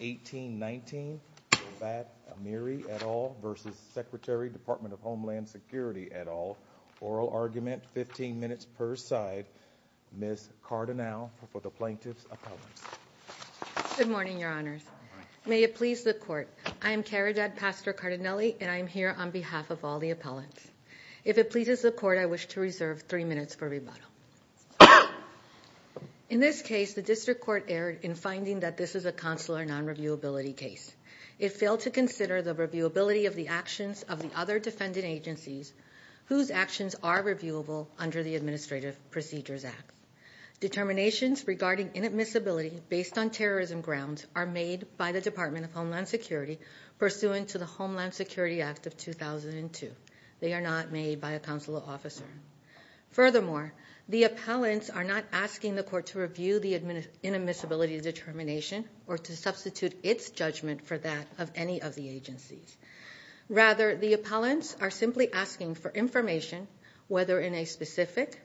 18-19, Loabat Amiri et al. v. Dept of Homeland Security et al. Oral argument, 15 minutes per side. Ms. Cardinale for the Plaintiff's Appellant. Good morning, Your Honors. May it please the Court. I am Caridad Pastor Cardinale and I am here on behalf of all the appellants. If it pleases the Court, I wish to reserve three minutes for rebuttal. In this case, the District Court erred in finding that this is a consular non-reviewability case. It failed to consider the reviewability of the actions of the other defendant agencies whose actions are reviewable under the Administrative Procedures Act. Determinations regarding inadmissibility based on terrorism grounds are made by the Department of Homeland Security pursuant to the Homeland Security Act of 2002. They are not made by a consular officer. Furthermore, the appellants are not asking the Court to review the inadmissibility determination or to substitute its judgment for that of any of the agencies. Rather, the appellants are simply asking for information, whether in a specific,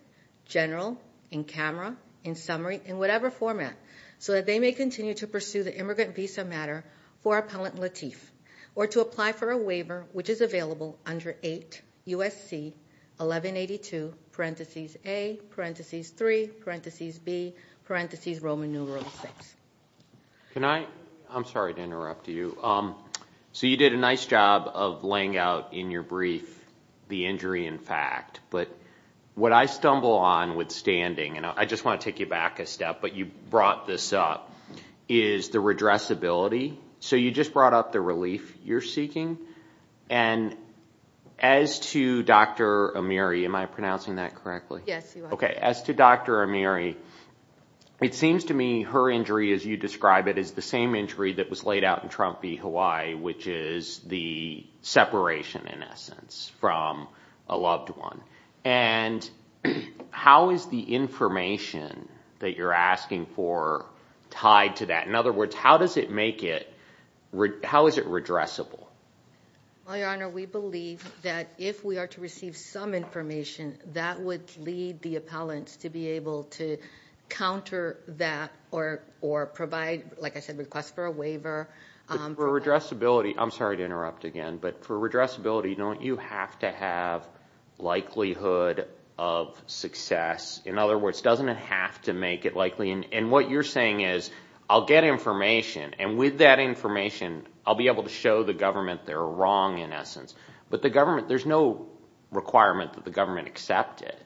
general, in camera, in summary, in whatever format, so that they may continue to pursue the immigrant visa matter for Appellant Lateef or to apply for a waiver, which is available under 8 U.S.C. 1182, parenthesis A, parenthesis 3, parenthesis B, parenthesis Roman numeral VI. Can I? I'm sorry to interrupt you. So you did a nice job of laying out in your brief the injury in fact, but what I stumble on withstanding, and I just want to take you back a step, but you brought this up, is the redressability. So you just brought up the relief you're seeking. And as to Dr. Amiri, am I pronouncing that correctly? Yes, you are. Okay, as to Dr. Amiri, it seems to me her injury, as you describe it, is the same injury that was laid out in Trump v. Hawaii, which is the separation, in essence, from a loved one. And how is the information that you're asking for tied to that? In other words, how does it make it? How is it redressable? Well, Your Honor, we believe that if we are to receive some information, that would lead the appellants to be able to counter that or provide, like I said, request for a waiver. But for redressability, I'm sorry to interrupt again, but for redressability, don't you have to have likelihood of success? In other words, doesn't it have to make it likely? And what you're saying is, I'll get information, and with that information I'll be able to show the government they're wrong, in essence. But the government, there's no requirement that the government accept it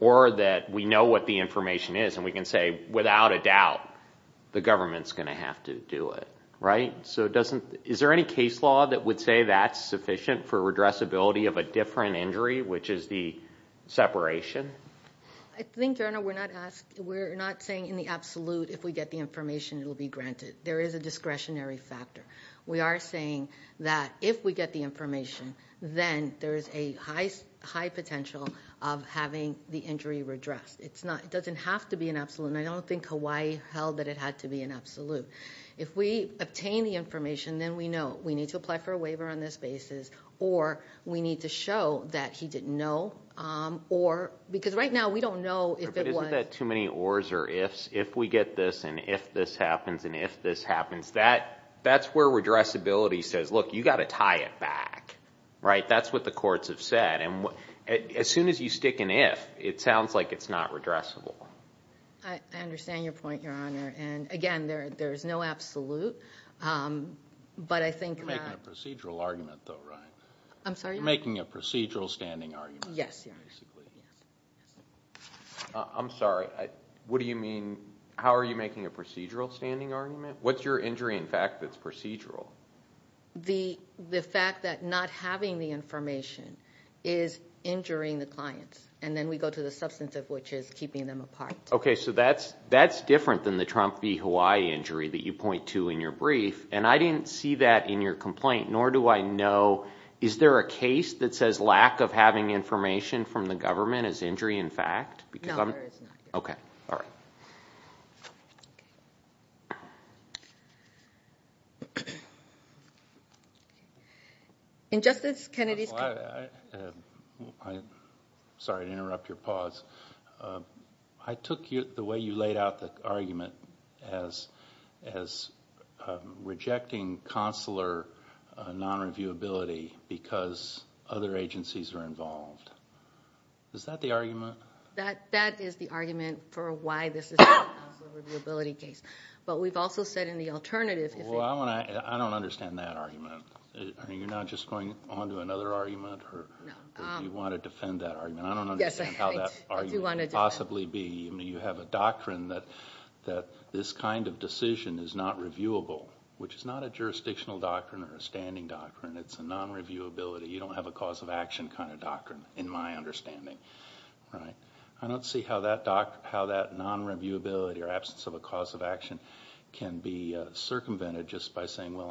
or that we know what the information is and we can say, without a doubt, the government's going to have to do it, right? So is there any case law that would say that's sufficient for redressability of a different injury, which is the separation? I think, Your Honor, we're not saying in the absolute if we get the information it will be granted. There is a discretionary factor. We are saying that if we get the information, then there is a high potential of having the injury redressed. It doesn't have to be an absolute, and I don't think Hawaii held that it had to be an absolute. If we obtain the information, then we know. We need to apply for a waiver on this basis, or we need to show that he didn't know, because right now we don't know if it was. Isn't that too many ors or ifs? If we get this and if this happens and if this happens, that's where redressability says, look, you've got to tie it back. That's what the courts have said. As soon as you stick an if, it sounds like it's not redressable. I understand your point, Your Honor. Again, there's no absolute, but I think... You're making a procedural argument, though, right? I'm sorry? You're making a procedural standing argument. Yes. I'm sorry. What do you mean? How are you making a procedural standing argument? What's your injury in fact that's procedural? The fact that not having the information is injuring the client, and then we go to the substance of which is keeping them apart. Okay, so that's different than the Trump v. Hawaii injury that you point to in your brief, and I didn't see that in your complaint, nor do I know, is there a case that says lack of having information from the government is injury in fact? No, there is not. Okay. All right. In Justice Kennedy's case... Sorry to interrupt your pause. I took the way you laid out the argument as rejecting consular non-reviewability because other agencies are involved. Is that the argument? That is the argument for why this is not a consular reviewability case, but we've also said in the alternative... Well, I don't understand that argument. You're not just going on to another argument, or do you want to defend that argument? I don't understand how that argument could possibly be. You have a doctrine that this kind of decision is not reviewable, which is not a jurisdictional doctrine or a standing doctrine. It's a non-reviewability. You don't have a cause-of-action kind of doctrine, in my understanding. I don't see how that non-reviewability or absence of a cause-of-action can be circumvented just by saying, well,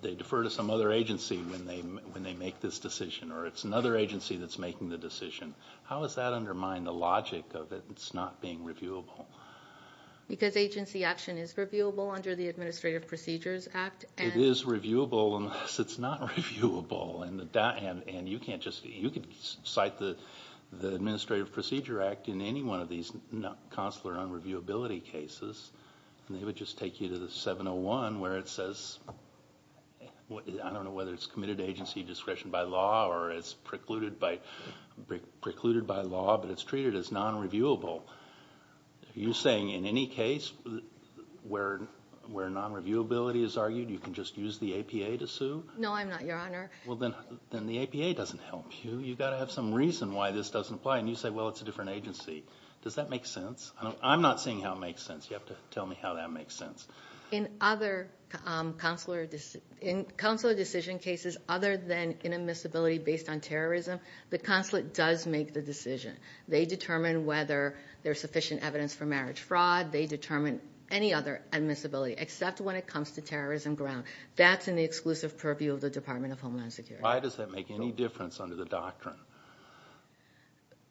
they defer to some other agency when they make this decision, or it's another agency that's making the decision. How does that undermine the logic of it not being reviewable? Because agency action is reviewable under the Administrative Procedures Act. It is reviewable unless it's not reviewable, and you can cite the Administrative Procedure Act in any one of these consular non-reviewability cases, and they would just take you to the 701 where it says, I don't know whether it's committed to agency discretion by law or it's precluded by law, but it's treated as non-reviewable. Are you saying in any case where non-reviewability is argued, you can just use the APA to sue? No, I'm not, Your Honor. Well, then the APA doesn't help you. You've got to have some reason why this doesn't apply, and you say, well, it's a different agency. Does that make sense? I'm not seeing how it makes sense. You have to tell me how that makes sense. In consular decision cases other than inadmissibility based on terrorism, the consulate does make the decision. They determine whether there's sufficient evidence for marriage fraud. They determine any other admissibility, except when it comes to terrorism grounds. That's in the exclusive purview of the Department of Homeland Security. Why does that make any difference under the doctrine?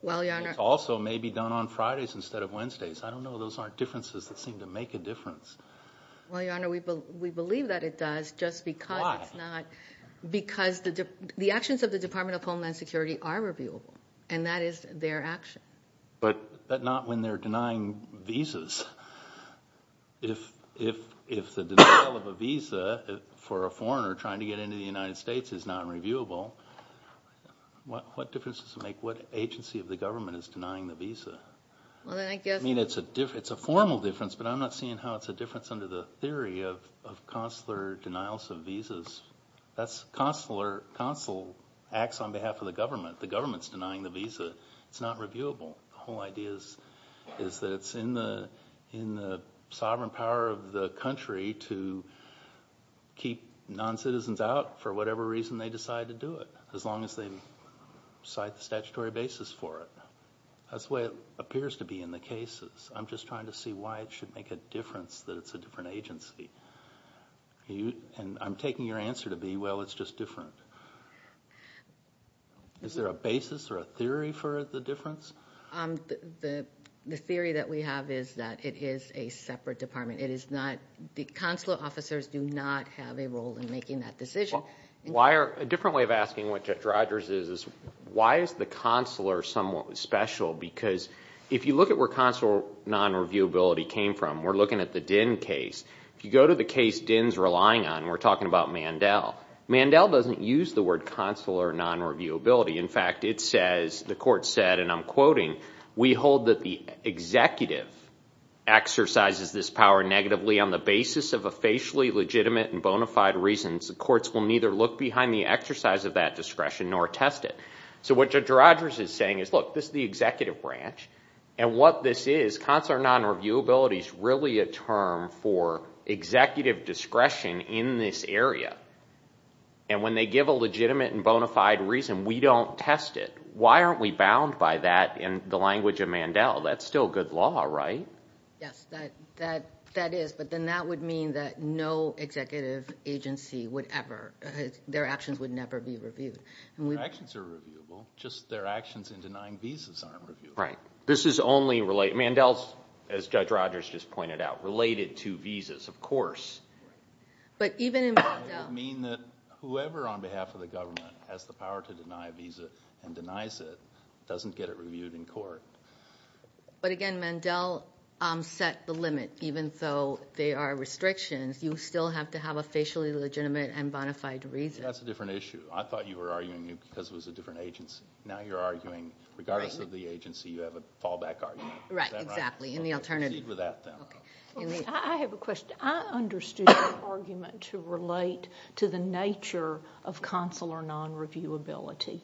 Well, Your Honor. It also may be done on Fridays instead of Wednesdays. I don't know. Those aren't differences that seem to make a difference. Well, Your Honor, we believe that it does just because it's not. Why? Because the actions of the Department of Homeland Security are reviewable, and that is their action. But not when they're denying visas. If the denial of a visa for a foreigner trying to get into the United States is non-reviewable, what difference does it make what agency of the government is denying the visa? I mean, it's a formal difference, but I'm not seeing how it's a difference under the theory of consular denials of visas. That's consular acts on behalf of the government. The government's denying the visa. It's not reviewable. The whole idea is that it's in the sovereign power of the country to keep non-citizens out for whatever reason they decide to do it, as long as they cite the statutory basis for it. That's the way it appears to be in the cases. I'm just trying to see why it should make a difference that it's a different agency. I'm taking your answer to be, well, it's just different. Is there a basis or a theory for the difference? The theory that we have is that it is a separate department. The consular officers do not have a role in making that decision. A different way of asking what Judge Rogers is, why is the consular somewhat special? Because if you look at where consular non-reviewability came from, we're looking at the Dinh case. If you go to the case Dinh's relying on, we're talking about Mandel. Mandel doesn't use the word consular non-reviewability. In fact, it says, the court said, and I'm quoting, we hold that the executive exercises this power negatively on the basis of a facially legitimate and bona fide reasons. The courts will neither look behind the exercise of that discretion nor test it. What Judge Rogers is saying is, look, this is the executive branch, and what this is, consular non-reviewability is really a term for executive discretion in this area. When they give a legitimate and bona fide reason, we don't test it. Why aren't we bound by that in the language of Mandel? That's still good law, right? Yes, that is. But then that would mean that no executive agency would ever, their actions would never be reviewed. Their actions are reviewable. Just their actions in denying visas aren't reviewable. Right. This is only related. Mandel, as Judge Rogers just pointed out, related to visas, of course. But even in Mandel. It would mean that whoever, on behalf of the government, has the power to deny a visa and denies it doesn't get it reviewed in court. But, again, Mandel set the limit. Even though they are restrictions, you still have to have a facially legitimate and bona fide reason. That's a different issue. I thought you were arguing because it was a different agency. Now you're arguing regardless of the agency, you have a fallback argument. Right, exactly. And the alternative. Proceed with that, then. I have a question. I understood your argument to relate to the nature of consular non-reviewability.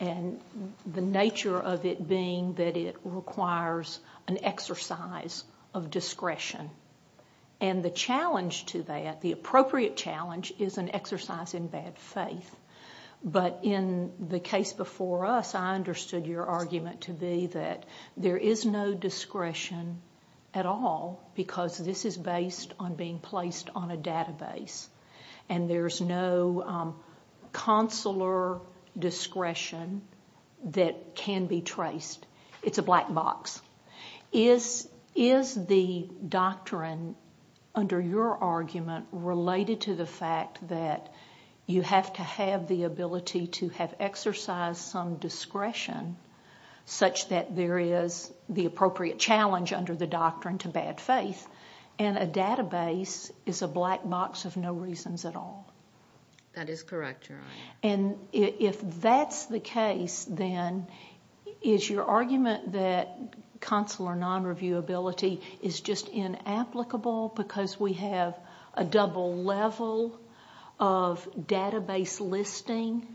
And the nature of it being that it requires an exercise of discretion. And the challenge to that, the appropriate challenge, is an exercise in bad faith. But in the case before us, I understood your argument to be that there is no discretion at all because this is based on being placed on a database. And there's no consular discretion that can be traced. It's a black box. Is the doctrine, under your argument, related to the fact that you have to have the ability to have exercised some discretion such that there is the appropriate challenge under the doctrine to bad faith, and a database is a black box of no reasons at all? That is correct, Your Honor. And if that's the case, then, is your argument that consular non-reviewability is just inapplicable because we have a double level of database listing?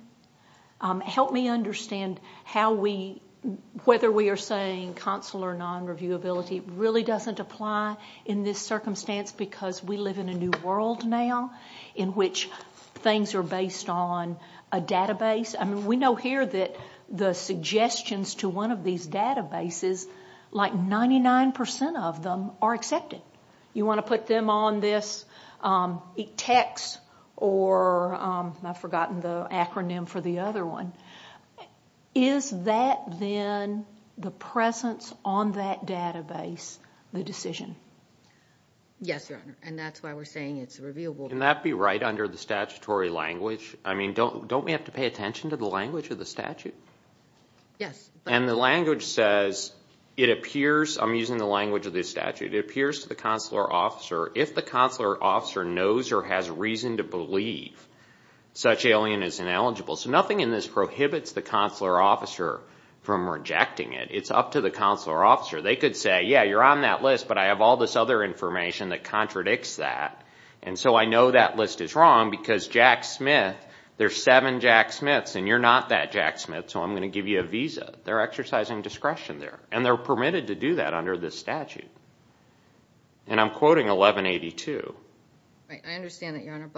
Help me understand whether we are saying consular non-reviewability really doesn't apply. In this circumstance, because we live in a new world now, in which things are based on a database, we know here that the suggestions to one of these databases, like 99% of them, are accepted. You want to put them on this ETECS, or I've forgotten the acronym for the other one. Is that, then, the presence on that database the decision? Yes, Your Honor, and that's why we're saying it's a reviewable doctrine. Can that be right under the statutory language? I mean, don't we have to pay attention to the language of the statute? Yes. And the language says, it appears, I'm using the language of this statute, it appears to the consular officer, if the consular officer knows or has reason to believe such alien is ineligible. So nothing in this prohibits the consular officer from rejecting it. It's up to the consular officer. They could say, yeah, you're on that list, but I have all this other information that contradicts that, and so I know that list is wrong because Jack Smith, there's seven Jack Smiths and you're not that Jack Smith, so I'm going to give you a visa. They're exercising discretion there, and they're permitted to do that under this statute. And I'm quoting 1182. I understand that, Your Honor,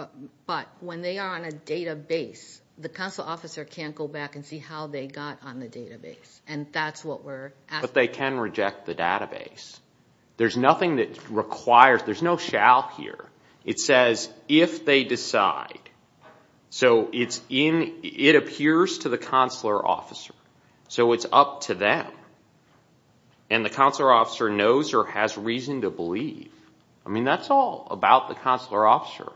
but when they are on a database, the consular officer can't go back and see how they got on the database, and that's what we're asking. But they can reject the database. There's nothing that requires, there's no shall here. It says, if they decide. So it appears to the consular officer, so it's up to them. And the consular officer knows or has reason to believe. I mean, that's all about the consular officer.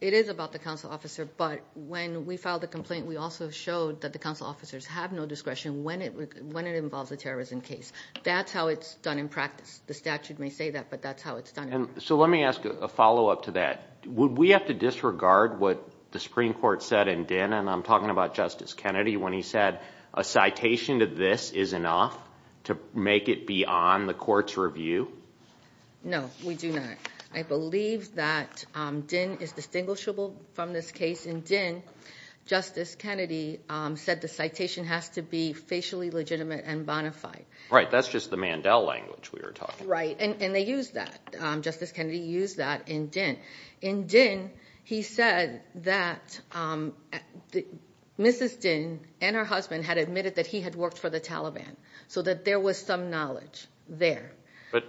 It is about the consular officer, but when we filed the complaint, we also showed that the consular officers have no discretion when it involves a terrorism case. That's how it's done in practice. The statute may say that, but that's how it's done. So let me ask a follow-up to that. Would we have to disregard what the Supreme Court said in Din, and I'm talking about Justice Kennedy, when he said, a citation to this is enough to make it beyond the court's review? No, we do not. I believe that Din is distinguishable from this case. In Din, Justice Kennedy said the citation has to be facially legitimate and bona fide. Right, that's just the Mandel language we were talking about. Right, and they used that. Justice Kennedy used that in Din. In Din, he said that Mrs. Din and her husband had admitted that he had worked for the Taliban, so that there was some knowledge there. But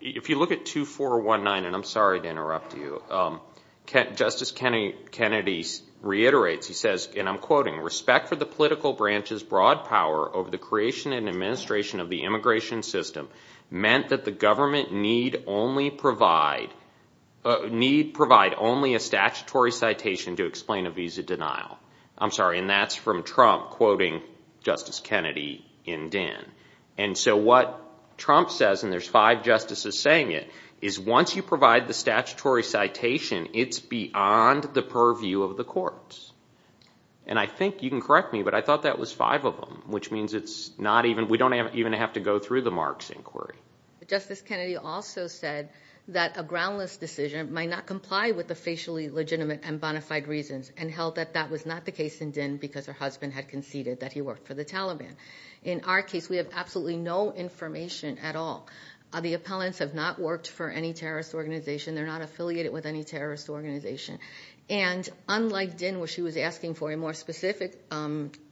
if you look at 2419, and I'm sorry to interrupt you, Justice Kennedy reiterates, he says, and I'm quoting, respect for the political branch's broad power over the creation and administration of the immigration system meant that the government need provide only a statutory citation to explain a visa denial. I'm sorry, and that's from Trump quoting Justice Kennedy in Din. And so what Trump says, and there's five justices saying it, is once you provide the statutory citation, it's beyond the purview of the courts. And I think, you can correct me, but I thought that was five of them, which means it's not even, we don't even have to go through the Marks inquiry. Justice Kennedy also said that a groundless decision might not comply with the facially legitimate and bona fide reasons, and held that that was not the case in Din because her husband had conceded that he worked for the Taliban. In our case, we have absolutely no information at all. The appellants have not worked for any terrorist organization. They're not affiliated with any terrorist organization. And unlike Din, where she was asking for a more specific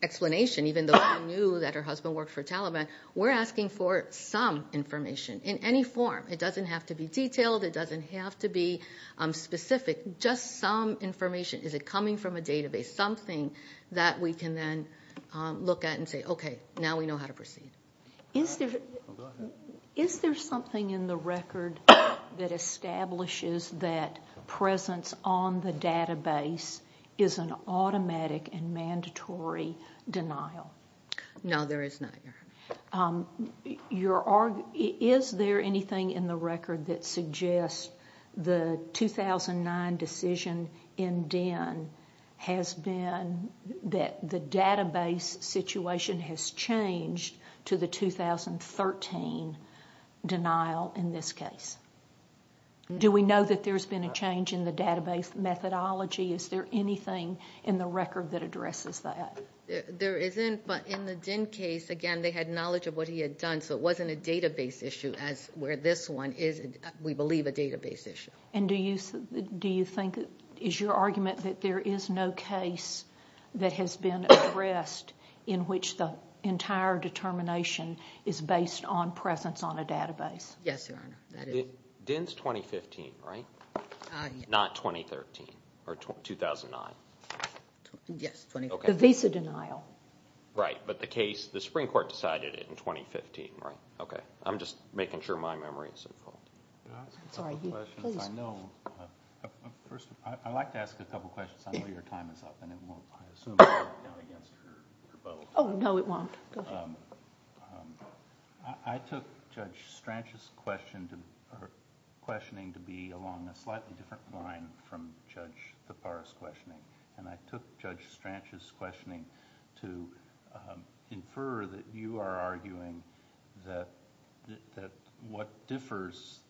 explanation, even though she knew that her husband worked for Taliban, we're asking for some information in any form. It doesn't have to be detailed. It doesn't have to be specific. Just some information. Is it coming from a database? Something that we can then look at and say, okay, now we know how to proceed. Is there something in the record that establishes that presence on the database is an automatic and mandatory denial? Is there anything in the record that suggests the 2009 decision in Din has been that the database situation has changed to the 2013 denial in this case? Do we know that there's been a change in the database methodology? Is there anything in the record that addresses that? There isn't, but in the Din case, again, they had knowledge of what he had done, so it wasn't a database issue as where this one is, we believe, a database issue. And do you think it is your argument that there is no case that has been addressed in which the entire determination is based on presence on a database? Yes, Your Honor, that is. Din's 2015, right? Not 2013 or 2009? Yes, 2015. The Visa denial. Right, but the case, the Supreme Court decided it in 2015, right? Okay, I'm just making sure my memory is in full. Can I ask a couple questions? I know, first, I'd like to ask a couple questions. I know your time is up and it won't, I assume, count against your vote. Oh, no, it won't. Go ahead. I took Judge Strach's questioning to be along a slightly different line from Judge Tapar's questioning. And I took Judge Strach's questioning to infer that you are arguing that what differs,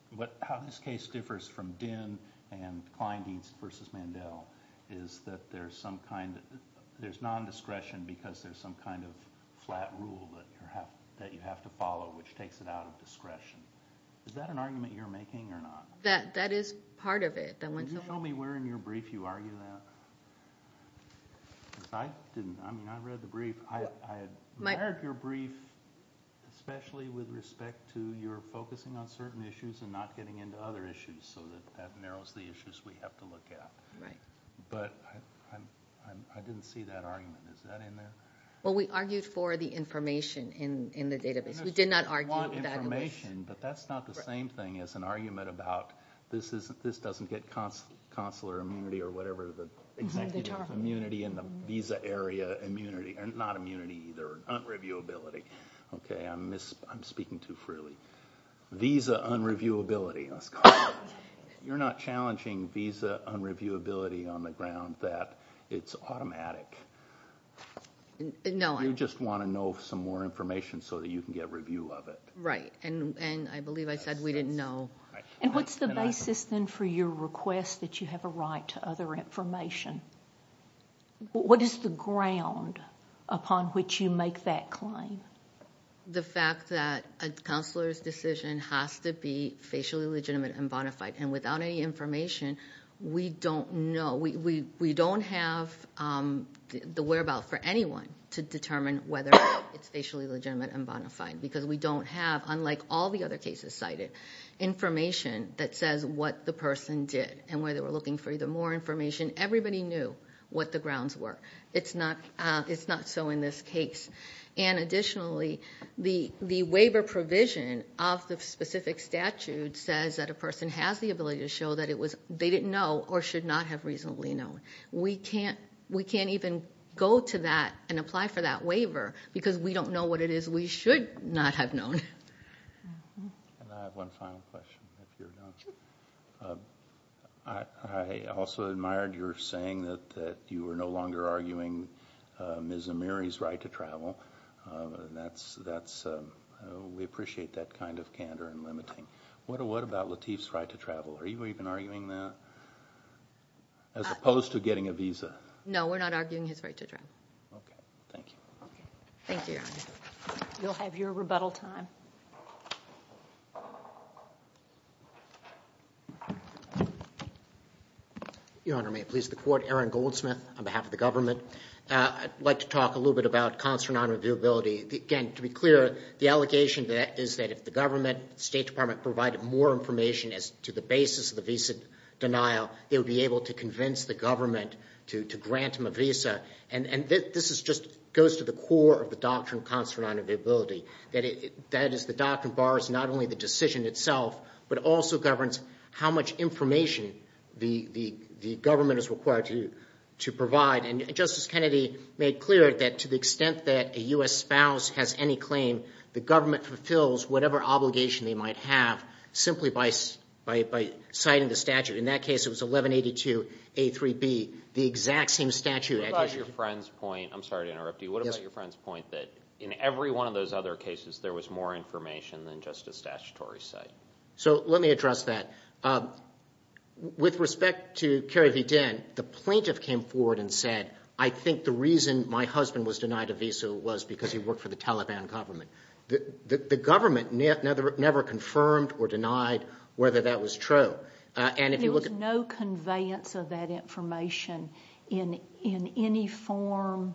how this case differs from Din and Kleindienst versus Mandel is that there's some kind, there's non-discretion because there's some kind of flat rule that you have to follow which takes it out of discretion. Is that an argument you're making or not? That is part of it. Can you tell me where in your brief you argue that? Because I didn't, I mean, I read the brief. I admired your brief, especially with respect to your focusing on certain issues and not getting into other issues so that that narrows the issues we have to look at. Right. But I didn't see that argument. Is that in there? Well, we argued for the information in the database. We did not argue for that. Information, but that's not the same thing as an argument about this doesn't get consular immunity or whatever the executive immunity in the visa area immunity, not immunity either, unreviewability. Okay, I'm speaking too freely. Visa unreviewability. You're not challenging visa unreviewability on the ground that it's automatic. No, I'm not. You just want to know some more information so that you can get review of it. Right, and I believe I said we didn't know. And what's the basis then for your request that you have a right to other information? What is the ground upon which you make that claim? The fact that a consular's decision has to be facially legitimate and bona fide, and without any information, we don't know. We don't have the whereabout for anyone to determine whether it's facially legitimate and bona fide because we don't have, unlike all the other cases cited, information that says what the person did and whether they were looking for either more information. Everybody knew what the grounds were. It's not so in this case. And additionally, the waiver provision of the specific statute says that a person has the ability to show that they didn't know or should not have reasonably known. We can't even go to that and apply for that waiver because we don't know what it is we should not have known. And I have one final question. I also admired your saying that you were no longer arguing Ms. Amiri's right to travel. We appreciate that kind of candor and limiting. What about Lateef's right to travel? Are you even arguing that as opposed to getting a visa? No, we're not arguing his right to travel. Okay. Thank you. Thank you, Your Honor. You'll have your rebuttal time. Your Honor, may it please the Court? Aaron Goldsmith on behalf of the government. I'd like to talk a little bit about consular non-reviewability. Again, to be clear, the allegation is that if the government, State Department, provided more information as to the basis of the visa denial, they would be able to convince the government to grant them a visa. And this just goes to the core of the doctrine of consular non-reviewability. That is, the doctrine bars not only the decision itself, but also governs how much information the government is required to provide. And Justice Kennedy made clear that to the extent that a U.S. spouse has any claim, the government fulfills whatever obligation they might have simply by citing the statute. In that case, it was 1182A3B, the exact same statute. What about your friend's point? I'm sorry to interrupt you. What about your friend's point that in every one of those other cases, there was more information than just a statutory cite? So let me address that. With respect to Kerry v. Dinn, the plaintiff came forward and said, I think the reason my husband was denied a visa was because he worked for the Taliban government. The government never confirmed or denied whether that was true. There was no conveyance of that information in any form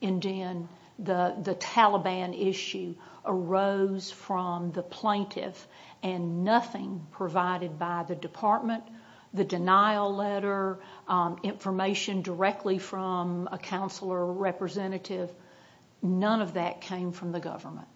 in Dinn. The Taliban issue arose from the plaintiff, and nothing provided by the department, the denial letter, information directly from a consular representative, none of that came from the government.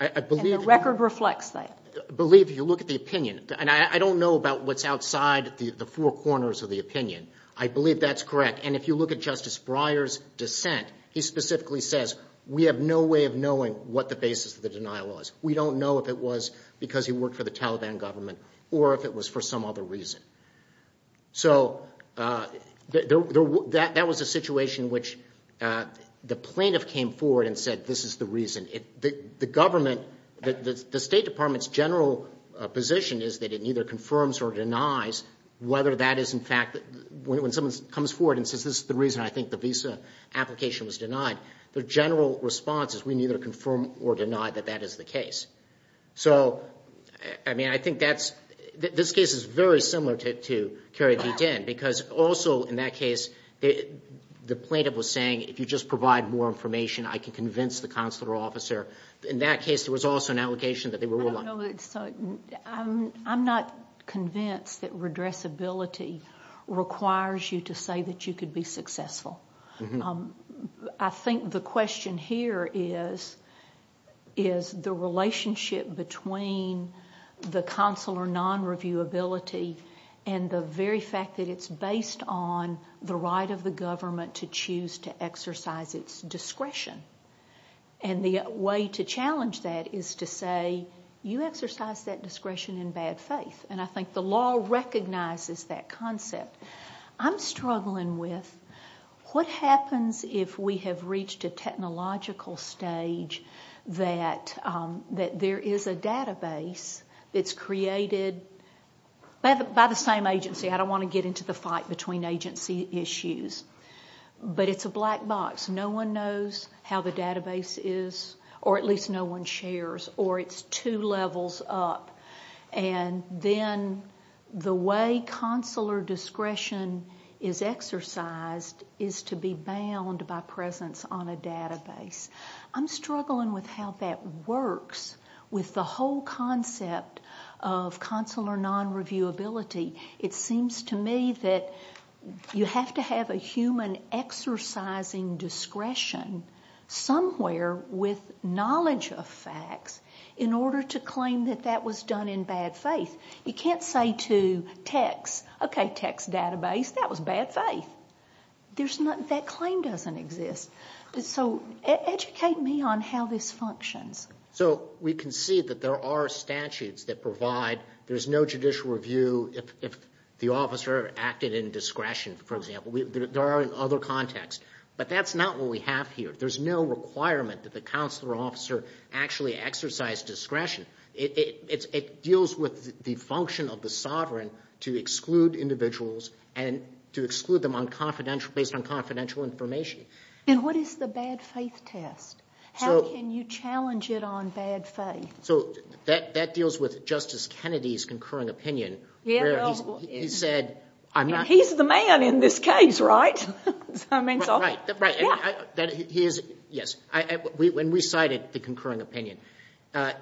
And the record reflects that. I believe if you look at the opinion, and I don't know about what's outside the four corners of the opinion. I believe that's correct. And if you look at Justice Breyer's dissent, he specifically says, we have no way of knowing what the basis of the denial was. We don't know if it was because he worked for the Taliban government or if it was for some other reason. So that was a situation in which the plaintiff came forward and said, this is the reason. Whether that is in fact, when someone comes forward and says, this is the reason I think the visa application was denied, the general response is we neither confirm or deny that that is the case. So, I mean, I think that's, this case is very similar to Kerry v. Dinn, because also in that case, the plaintiff was saying, if you just provide more information, I can convince the consular officer. In that case, there was also an allegation that they were. I'm not convinced that redressability requires you to say that you could be successful. I think the question here is, is the relationship between the consular non-reviewability and the very fact that it's based on the right of the government to choose to exercise its discretion. And the way to challenge that is to say, you exercise that discretion in bad faith. And I think the law recognizes that concept. I'm struggling with what happens if we have reached a technological stage that there is a database that's created by the same agency. I don't want to get into the fight between agency issues. But it's a black box. No one knows how the database is, or at least no one shares, or it's two levels up. And then the way consular discretion is exercised is to be bound by presence on a database. I'm struggling with how that works with the whole concept of consular non-reviewability. It seems to me that you have to have a human exercising discretion somewhere with knowledge of facts in order to claim that that was done in bad faith. You can't say to text, okay, text database, that was bad faith. That claim doesn't exist. So educate me on how this functions. So we can see that there are statutes that provide there's no judicial review if the officer acted in discretion, for example. There are in other contexts. But that's not what we have here. There's no requirement that the consular officer actually exercise discretion. It deals with the function of the sovereign to exclude individuals and to exclude them based on confidential information. And what is the bad faith test? How can you challenge it on bad faith? So that deals with Justice Kennedy's concurring opinion. He said, I'm not... He's the man in this case, right? Right. When we cited the concurring opinion,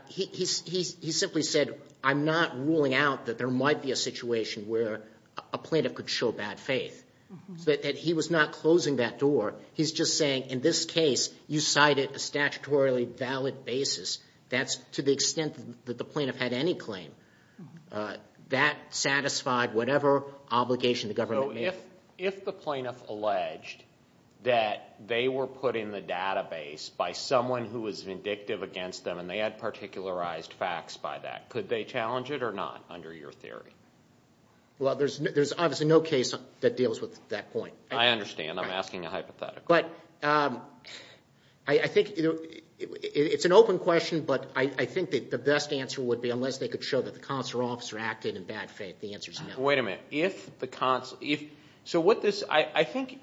he simply said, I'm not ruling out that there might be a situation where a plaintiff could show bad faith. He was not closing that door. He's just saying, in this case, you cited a statutorily valid basis. That's to the extent that the plaintiff had any claim. That satisfied whatever obligation the government made. So if the plaintiff alleged that they were put in the database by someone who was vindictive against them and they had particularized facts by that, could they challenge it or not under your theory? Well, there's obviously no case that deals with that point. I understand. I'm asking a hypothetical. But I think it's an open question, but I think that the best answer would be unless they could show that the consular officer acted in bad faith. The answer's no. Wait a minute. So I think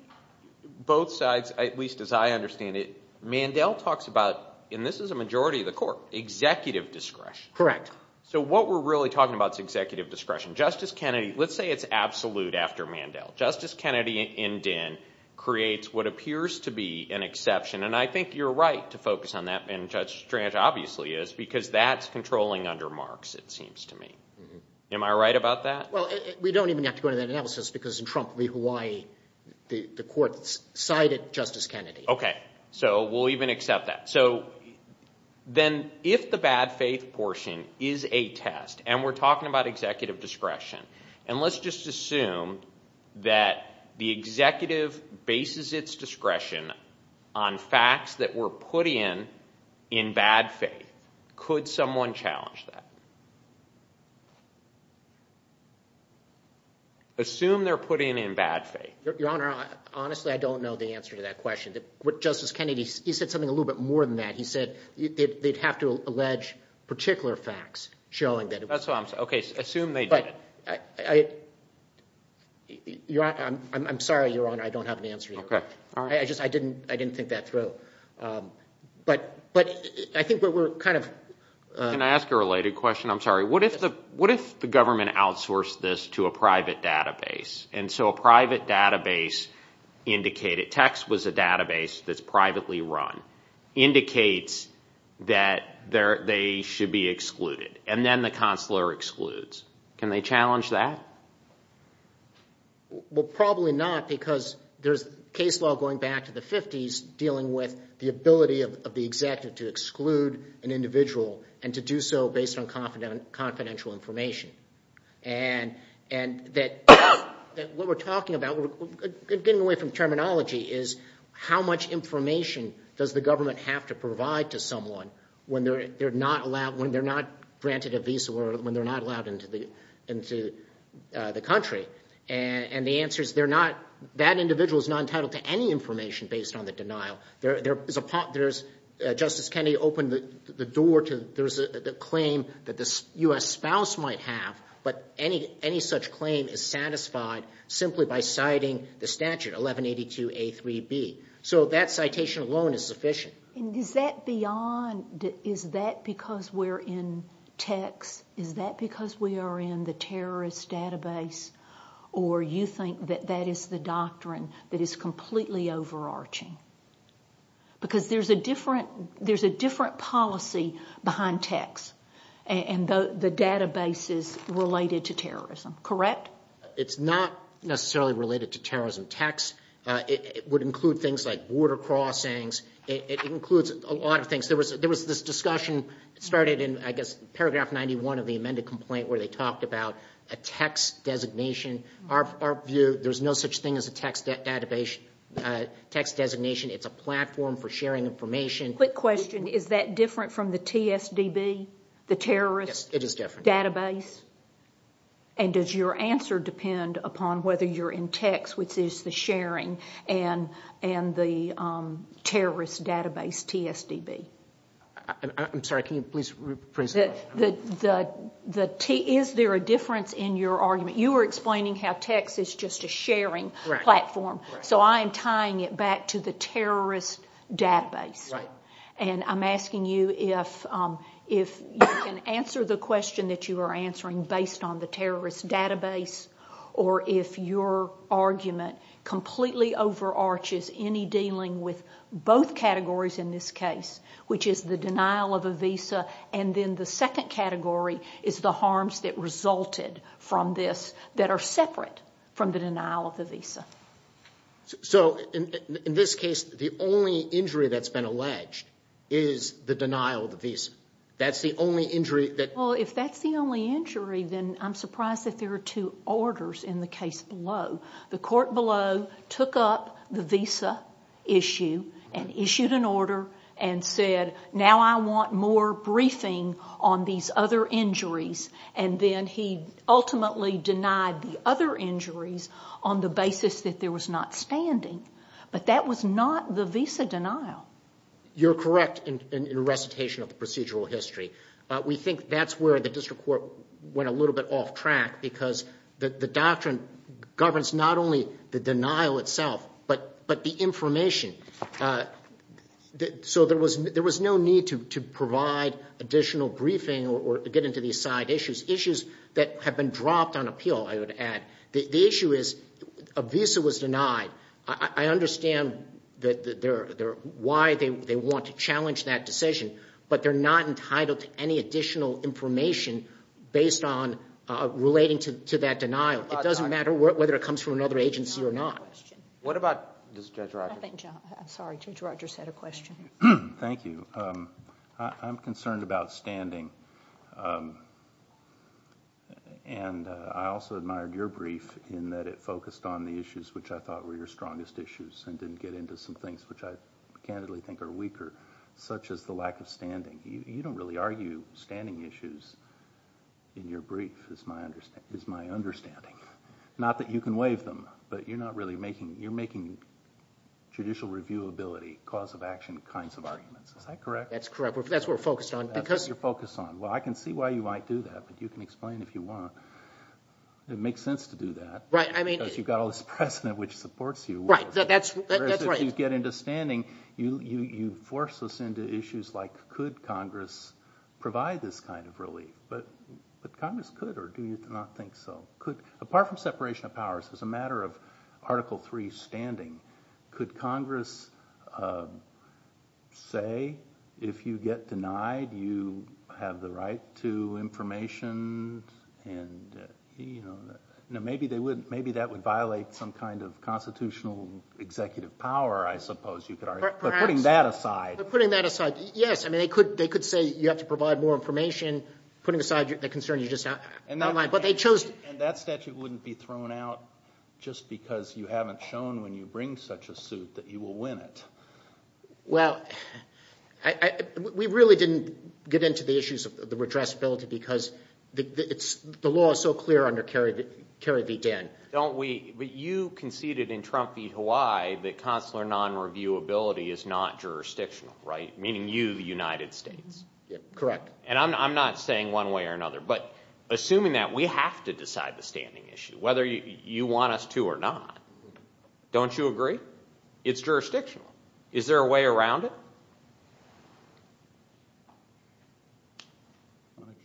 both sides, at least as I understand it, Mandel talks about, and this is a majority of the court, executive discretion. Correct. So what we're really talking about is executive discretion. Justice Kennedy, let's say it's absolute after Mandel. Justice Kennedy in Dinn creates what appears to be an exception, and I think you're right to focus on that, and Judge Strange obviously is, because that's controlling under Marx, it seems to me. Am I right about that? Well, we don't even have to go into that analysis because in Trump v. Hawaii, the court cited Justice Kennedy. Okay. So we'll even accept that. So then if the bad faith portion is a test and we're talking about executive discretion, and let's just assume that the executive bases its discretion on facts that were put in in bad faith, could someone challenge that? Assume they're put in in bad faith. Your Honor, honestly, I don't know the answer to that question. Justice Kennedy, he said something a little bit more than that. He said they'd have to allege particular facts showing that. Okay. Assume they did it. I'm sorry, Your Honor, I don't have an answer to that. I just didn't think that through. But I think we're kind of— Can I ask a related question? I'm sorry. What if the government outsourced this to a private database, and so a private database indicated— text was a database that's privately run— indicates that they should be excluded, and then the consular excludes. Can they challenge that? Well, probably not because there's case law going back to the 50s dealing with the ability of the executive to exclude an individual and to do so based on confidential information. And what we're talking about, getting away from terminology, is how much information does the government have to provide to someone when they're not allowed—when they're not granted a visa or when they're not allowed into the country? And the answer is they're not— that individual is not entitled to any information based on the denial. There's a—Justice Kennedy opened the door to— there's a claim that the U.S. spouse might have, but any such claim is satisfied simply by citing the statute, 1182a3b. So that citation alone is sufficient. And is that beyond—is that because we're in text? Is that because we are in the terrorist database? Or you think that that is the doctrine that is completely overarching? Because there's a different policy behind text and the databases related to terrorism, correct? It's not necessarily related to terrorism. Text would include things like border crossings. It includes a lot of things. There was this discussion started in, I guess, paragraph 91 of the amended complaint where they talked about a text designation. Our view, there's no such thing as a text designation. It's a platform for sharing information. Quick question, is that different from the TSDB, the terrorist database? Yes, it is different. And does your answer depend upon whether you're in text, which is the sharing, and the terrorist database, TSDB? I'm sorry, can you please rephrase that? Is there a difference in your argument? You were explaining how text is just a sharing platform. So I am tying it back to the terrorist database. And I'm asking you if you can answer the question that you are answering based on the terrorist database or if your argument completely overarches any dealing with both categories in this case, which is the denial of a visa, and then the second category is the harms that resulted from this that are separate from the denial of the visa. So in this case, the only injury that's been alleged is the denial of the visa. That's the only injury that... The court below took up the visa issue and issued an order and said, now I want more briefing on these other injuries, and then he ultimately denied the other injuries on the basis that there was not standing. But that was not the visa denial. You're correct in recitation of the procedural history. We think that's where the district court went a little bit off track because the doctrine governs not only the denial itself but the information. So there was no need to provide additional briefing or get into these side issues, issues that have been dropped on appeal, I would add. The issue is a visa was denied. I understand why they want to challenge that decision, but they're not entitled to any additional information based on relating to that denial. It doesn't matter whether it comes from another agency or not. What about Judge Rogers? Sorry, Judge Rogers had a question. Thank you. I'm concerned about standing, and I also admired your brief in that it focused on the issues which I thought were your strongest issues and didn't get into some things which I candidly think are weaker, such as the lack of standing. You don't really argue standing issues in your brief, is my understanding. Not that you can waive them, but you're making judicial reviewability, cause of action kinds of arguments. Is that correct? That's correct. That's what we're focused on. That's what you're focused on. Well, I can see why you might do that, but you can explain if you want. It makes sense to do that because you've got all this precedent which supports you. Right, that's right. When you get into standing, you force us into issues like, could Congress provide this kind of relief? But Congress could, or do you not think so? Apart from separation of powers, as a matter of Article III standing, could Congress say if you get denied, you have the right to information? Maybe that would violate some kind of constitutional executive power, I suppose you could argue. Perhaps. But putting that aside. But putting that aside, yes. They could say you have to provide more information, putting aside the concern you just outlined. And that statute wouldn't be thrown out just because you haven't shown when you bring such a suit that you will win it. Well, we really didn't get into the issues of the redressability because the law is so clear under Kerry v. Dan. But you conceded in Trump v. Hawaii that consular non-reviewability is not jurisdictional, right? Meaning you, the United States. Correct. And I'm not saying one way or another. But assuming that, we have to decide the standing issue, whether you want us to or not. Don't you agree? It's jurisdictional. Is there a way around it?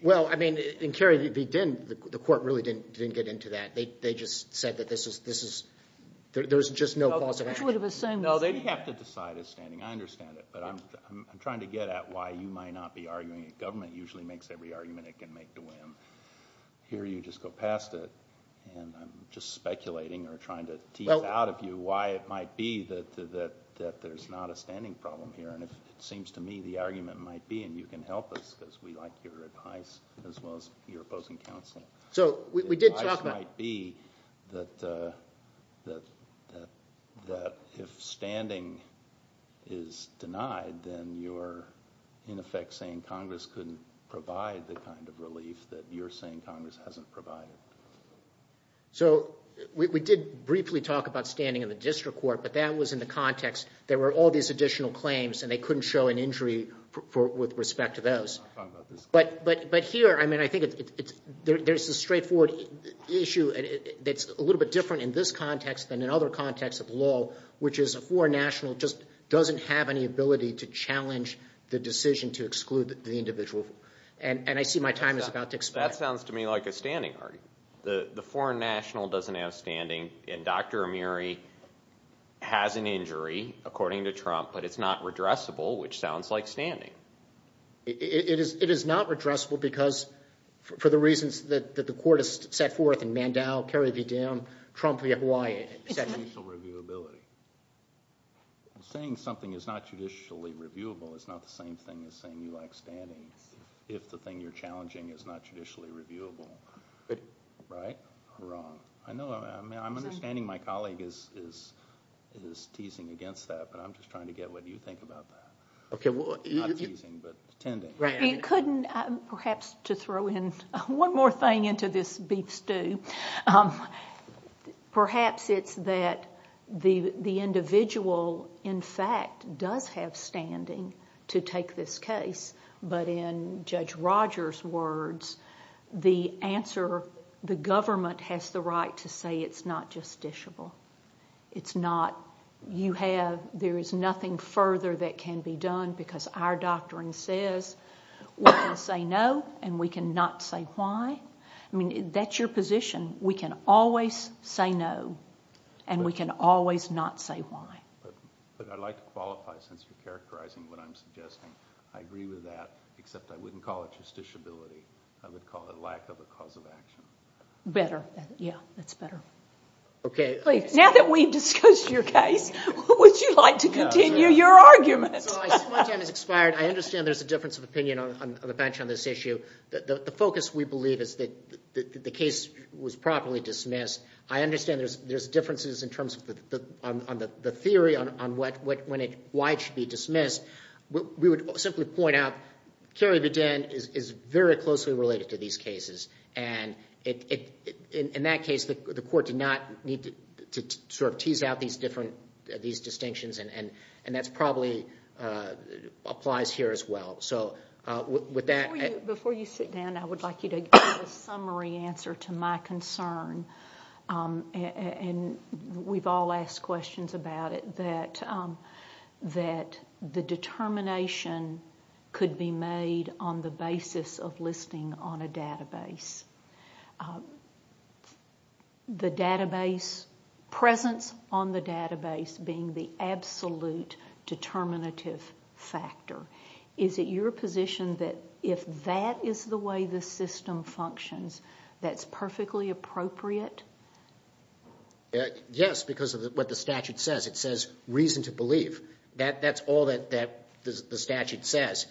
Well, I mean, in Kerry v. Dan, the court really didn't get into that. They just said that this is – there's just no cause of action. No, they have to decide a standing. I understand it. But I'm trying to get at why you might not be arguing that government usually makes every argument it can make to win. Here you just go past it. And I'm just speculating or trying to tease out of you why it might be that there's not a standing problem here. And it seems to me the argument might be, and you can help us because we like your advice as well as your opposing counsel. The advice might be that if standing is denied, then you're in effect saying Congress couldn't provide the kind of relief that you're saying Congress hasn't provided. So we did briefly talk about standing in the district court, but that was in the context. There were all these additional claims, and they couldn't show an injury with respect to those. But here, I mean, I think there's a straightforward issue that's a little bit different in this context than in other contexts of law, which is a foreign national just doesn't have any ability to challenge the decision to exclude the individual. And I see my time is about to expire. That sounds to me like a standing argument. The foreign national doesn't have standing, and Dr. Amiri has an injury, according to Trump, but it's not redressable, which sounds like standing. It is not redressable because for the reasons that the court has set forth in Mandel, Carrie V. Down, Trump v. Hawaii, et cetera. Judicial reviewability. Saying something is not judicially reviewable is not the same thing as saying you like standing if the thing you're challenging is not judicially reviewable. Right or wrong? I know. I'm understanding my colleague is teasing against that, but I'm just trying to get what you think about that. Okay. Not teasing, but intending. You couldn't perhaps just throw in one more thing into this beef stew. Perhaps it's that the individual, in fact, does have standing to take this case, but in Judge Rogers' words, the answer, the government has the right to say it's not justiciable. It's not. You have, there is nothing further that can be done because our doctrine says we can say no and we can not say why. I mean, that's your position. We can always say no, and we can always not say why. But I'd like to qualify since you're characterizing what I'm suggesting. I agree with that, except I wouldn't call it justiciability. I would call it lack of a cause of action. Better. Yeah, that's better. Okay. Now that we've discussed your case, would you like to continue your argument? My time has expired. I understand there's a difference of opinion on the bench on this issue. The focus, we believe, is that the case was properly dismissed. I understand there's differences in terms of the theory on why it should be dismissed. We would simply point out Cary Vauden is very closely related to these cases. In that case, the court did not need to tease out these distinctions, and that probably applies here as well. Before you sit down, I would like you to give a summary answer to my concern. We've all asked questions about it, that the determination could be made on the basis of listing on a database, the database presence on the database being the absolute determinative factor. Is it your position that if that is the way the system functions, that's perfectly appropriate? Yes, because of what the statute says. It says reason to believe. That's all that the statute says.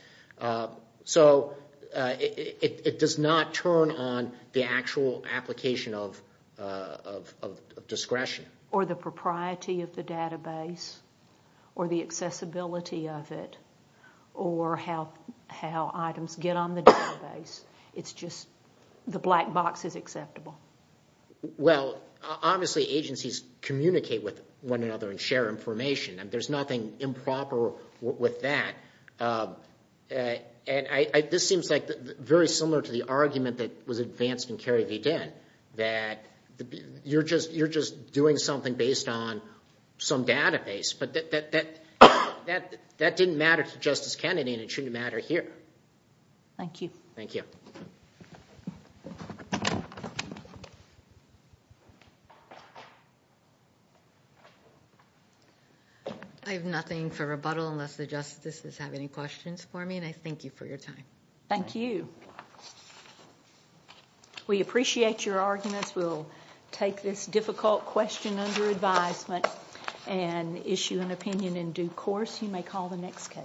So it does not turn on the actual application of discretion. Or the propriety of the database, or the accessibility of it, or how items get on the database. The black box is acceptable. Obviously, agencies communicate with one another and share information. There's nothing improper with that. This seems very similar to the argument that was advanced in Cary Vauden, that you're just doing something based on some database. That didn't matter to Justice Kennedy, and it shouldn't matter here. Thank you. Thank you. I have nothing for rebuttal unless the justices have any questions for me, and I thank you for your time. Thank you. We appreciate your arguments. We'll take this difficult question under advisement and issue an opinion in due course. You may call the next case.